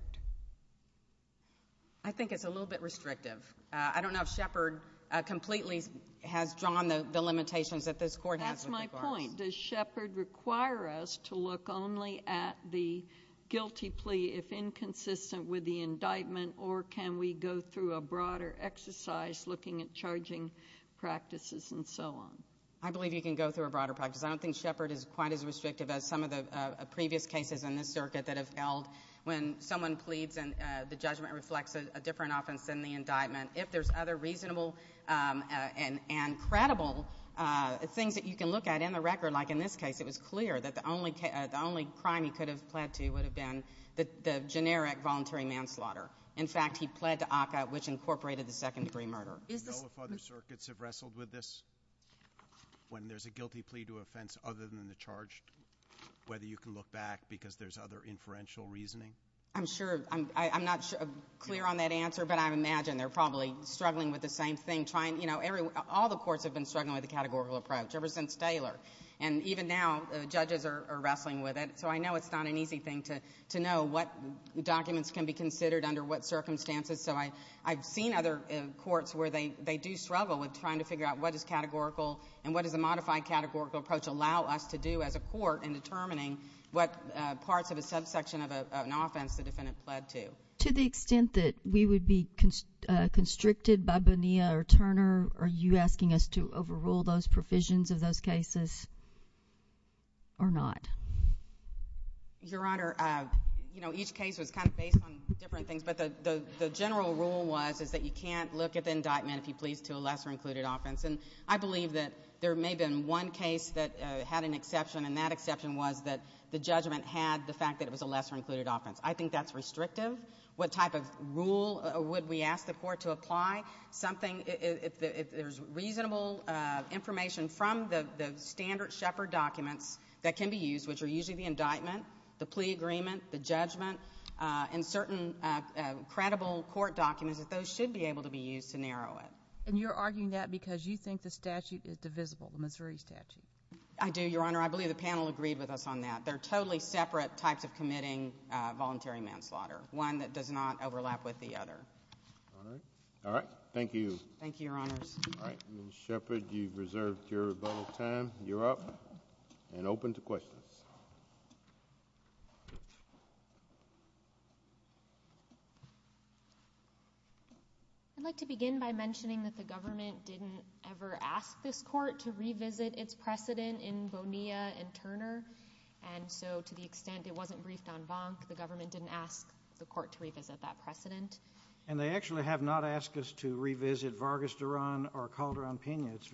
MS. WARREN. I think it's a little bit restrictive. I don't know if Shepard completely has drawn the limitations that this Court has with regards JUSTICE SOTOMAYOR. That's my point. Does Shepard require us to look only at the guilty plea if inconsistent with the indictment, or can we go through a broader exercise looking at charging practices and so on? MS. WARREN. I believe you can go through a broader practice. I don't think Shepard is quite as restrictive as some of the previous cases in this circuit that have held when someone pleads and the judgment reflects a different offense than the indictment. If there's other reasonable and credible things that you can look at in the record, like in this case, it was clear that the only crime he could have pled to would have been the generic voluntary manslaughter. In fact, he pled to ACCA, which incorporated the second-degree murder. Is this— JUSTICE BREYER. Do you know if other circuits have wrestled with this, when there's a guilty plea to offense other than the charged, whether you can look back because there's other inferential reasoning? MS. WARREN. I can imagine they're probably struggling with the same thing, trying—all the courts have been struggling with the categorical approach ever since Taylor. And even now, judges are wrestling with it. So I know it's not an easy thing to know what documents can be considered under what circumstances. So I've seen other courts where they do struggle with trying to figure out what is categorical and what does a modified categorical approach allow us to do as a court in determining what parts of a subsection of an offense the defendant pled to. To the extent that we would be constricted by Bonilla or Turner, are you asking us to overrule those provisions of those cases or not? MS. WARREN. Your Honor, you know, each case was kind of based on different things, but the general rule was is that you can't look at the indictment, if you please, to a lesser included offense. And I believe that there may have been one case that had an exception, and that exception was that the judgment had the fact that it was a lesser included offense. I think that's restrictive. What type of rule would we ask the court to apply? Something, if there's reasonable information from the standard Shepard documents that can be used, which are usually the indictment, the plea agreement, the judgment, and certain credible court documents, that those should be able to be used to narrow it. JUDGE LAKE And you're arguing that because you think the statute is divisible, the Missouri statute? MS. WARREN. I do, Your Honor. I believe the panel agreed with us on that. They're totally separate types of committing voluntary manslaughter. One that does not overlap with the other. JUDGE LAKE All right. Thank you. MS. WARREN. Thank you, Your Honors. JUDGE LAKE All right. Ms. Shepard, you've reserved your vote of time. You're up and open to questions. MS. SHEPARD. I'd like to begin by mentioning that the government didn't ever ask this court to revisit its precedent in Bonilla and Turner. And so to the extent it wasn't briefed on Bonk, the government didn't ask the court to revisit that precedent. JUDGE LAKE And they actually have not asked us to revisit Vargas Duran or Calderon-Pena. It's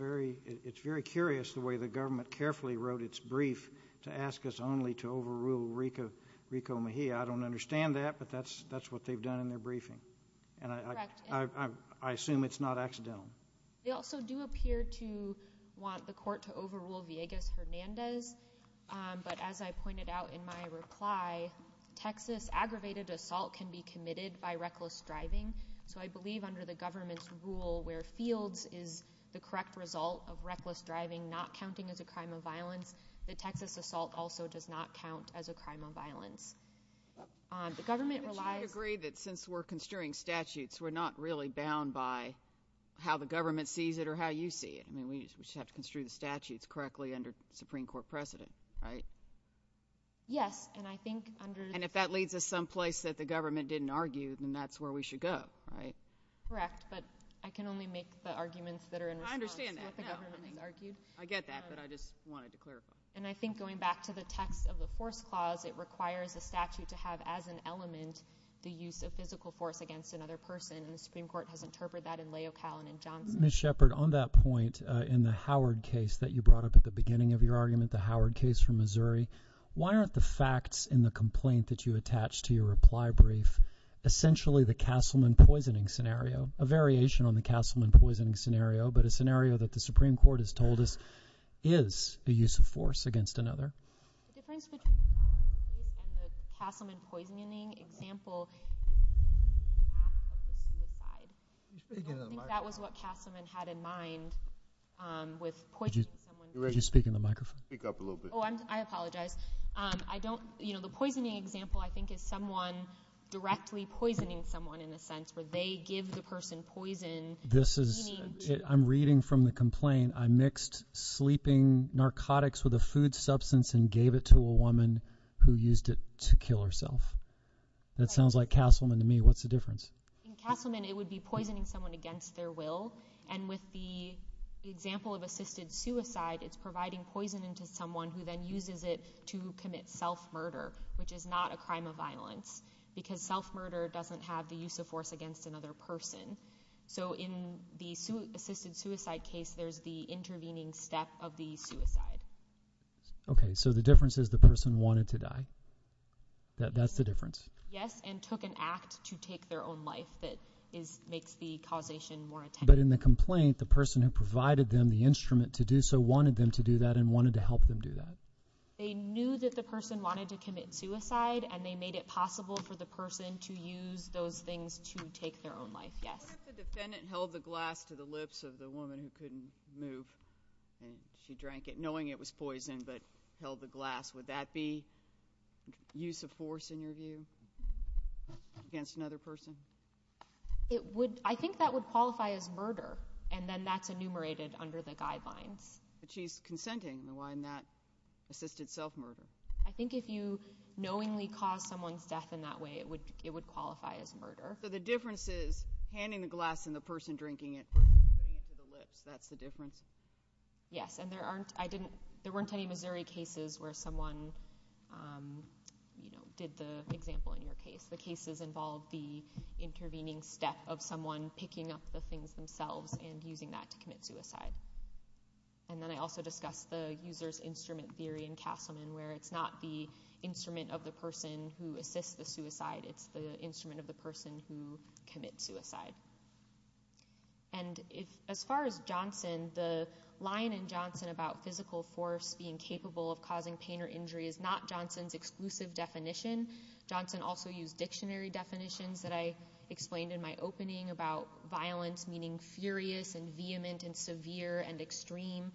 very curious the way the government carefully wrote its brief to ask us only to overrule Rico Mejia. I don't understand that, but that's what they've done in their briefing. MS. SHEPARD. Correct. JUDGE LAKE And I assume it's not accidental. MS. SHEPARD. I don't want the court to overrule Villegas-Hernandez, but as I pointed out in my reply, Texas aggravated assault can be committed by reckless driving. So I believe under the government's rule where fields is the correct result of reckless driving not counting as a crime of violence, the Texas assault also does not count as a crime of violence. The government relies— JUDGE LAKE I agree that since we're construing statutes, we're not really bound by how the government sees it or how you see it. We just have to construe the statutes correctly under the Supreme Court precedent, right? MS. SHEPARD. Yes, and I think under— JUDGE LAKE And if that leads us someplace that the government didn't argue, then that's where we should go, right? MS. SHEPARD. Correct, but I can only make the arguments that are in response to what the government has argued. JUDGE LAKE I understand that now. I get that, but I just wanted to clarify. MS. SHEPARD. And I think going back to the text of the force clause, it requires a statute to have as an element the use of physical force against another person, and the Supreme Court has interpreted that in Leocallin and Johnson. Ms. Shepard, on that point, in the Howard case that you brought up at the beginning of your argument, the Howard case from Missouri, why aren't the facts in the complaint that you attached to your reply brief essentially the Castleman poisoning scenario, a variation on the Castleman poisoning scenario, but a scenario that the Supreme Court has told us is a use of force against another? MS. SHEPARD. The difference between the Castleman case and the Castleman poisoning example is the act of the suicide. I don't think that was what Castleman had in mind with poisoning someone. JUDGE LAKE Did you speak in the microphone? MR. CASEY. Speak up a little bit. MS. SHEPARD. I apologize. I don't, you know, the poisoning example I think is someone directly poisoning someone in the sense where they give the person poison. JUDGE LAKE This is, I'm reading from the complaint. I mixed sleeping narcotics with a food substance and gave it to a woman who used it to kill herself. That sounds like Castleman to me. What's the difference? MS. SHEPARD. It's poisoning someone against their will. And with the example of assisted suicide, it's providing poison into someone who then uses it to commit self-murder, which is not a crime of violence because self-murder doesn't have the use of force against another person. So in the assisted suicide case, there's the intervening step of the suicide. JUDGE LAKE Okay. That's the difference? MS. SHEPARD. Yes, and took an act to take their own life that makes the causation more intense. JUDGE LAKE But in the complaint, the person who provided them the instrument to do so wanted them to do that and wanted to help them do that. MS. SHEPARD. They knew that the person wanted to commit suicide and they made it possible for the person to use those things to take their own life, yes. JUDGE LAKE What if the defendant held the glass to the lips of the woman who couldn't move and she drank it knowing it was poison but held the glass? Would that be use of force in your view? Against another person? SHEPARD. I think that would qualify as murder and then that's enumerated under the guidelines. JUDGE LAKE But she's consenting, why not assisted self-murder? MS. SHEPARD. I think if you knowingly cause someone's death in that way, it would qualify as murder. JUDGE LAKE So the difference is handing the glass and the person drinking it versus putting it to the lips, that's the difference? MS. SHEPARD. Yes, and there weren't any Missouri cases where someone, you know, did the example in your case. The cases involved the intervening step of someone picking up the things themselves and using that to commit suicide. And then I also discussed the user's instrument theory in Castleman where it's not the instrument of the person who assists the suicide, it's the instrument of the person who commits suicide. And as far as Johnson, the line in Johnson about physical force being capable of causing pain or injury is not Johnson's exclusive definition. Johnson also used dictionary definitions that I explained in my opening about violence meaning furious and vehement and severe and extreme.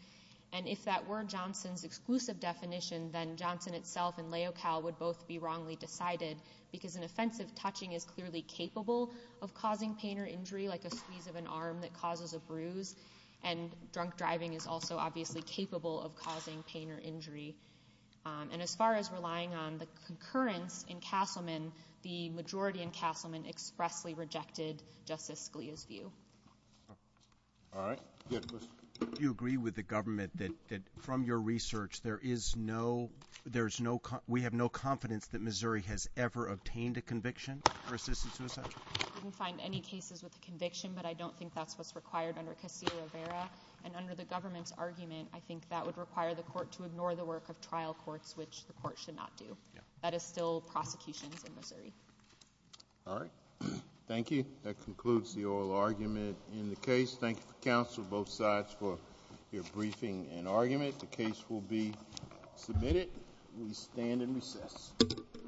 And if that were Johnson's exclusive definition, then Johnson itself and LAOCAL would both be wrongly decided because an offensive touching is clearly capable of causing pain or injury, like a squeeze of an arm that causes a bruise. And drunk driving is also obviously capable of causing pain or injury. And as far as relying on the concurrence in Castleman, the majority in Castleman expressly rejected Justice Scalia's view. All right. You had a question? Do you agree with the government that from your research, there is no, there's no, we have no confidence that Missouri has ever obtained a conviction for assisted suicide? I didn't find any cases with the conviction, but I don't think that's what's required under Castillo-Rivera. And under the government's argument, I think that would require the court to have trial courts, which the court should not do. That is still prosecutions in Missouri. All right. Thank you. That concludes the oral argument in the case. Thank you for counsel, both sides for your briefing and argument. The case will be submitted. We stand in recess.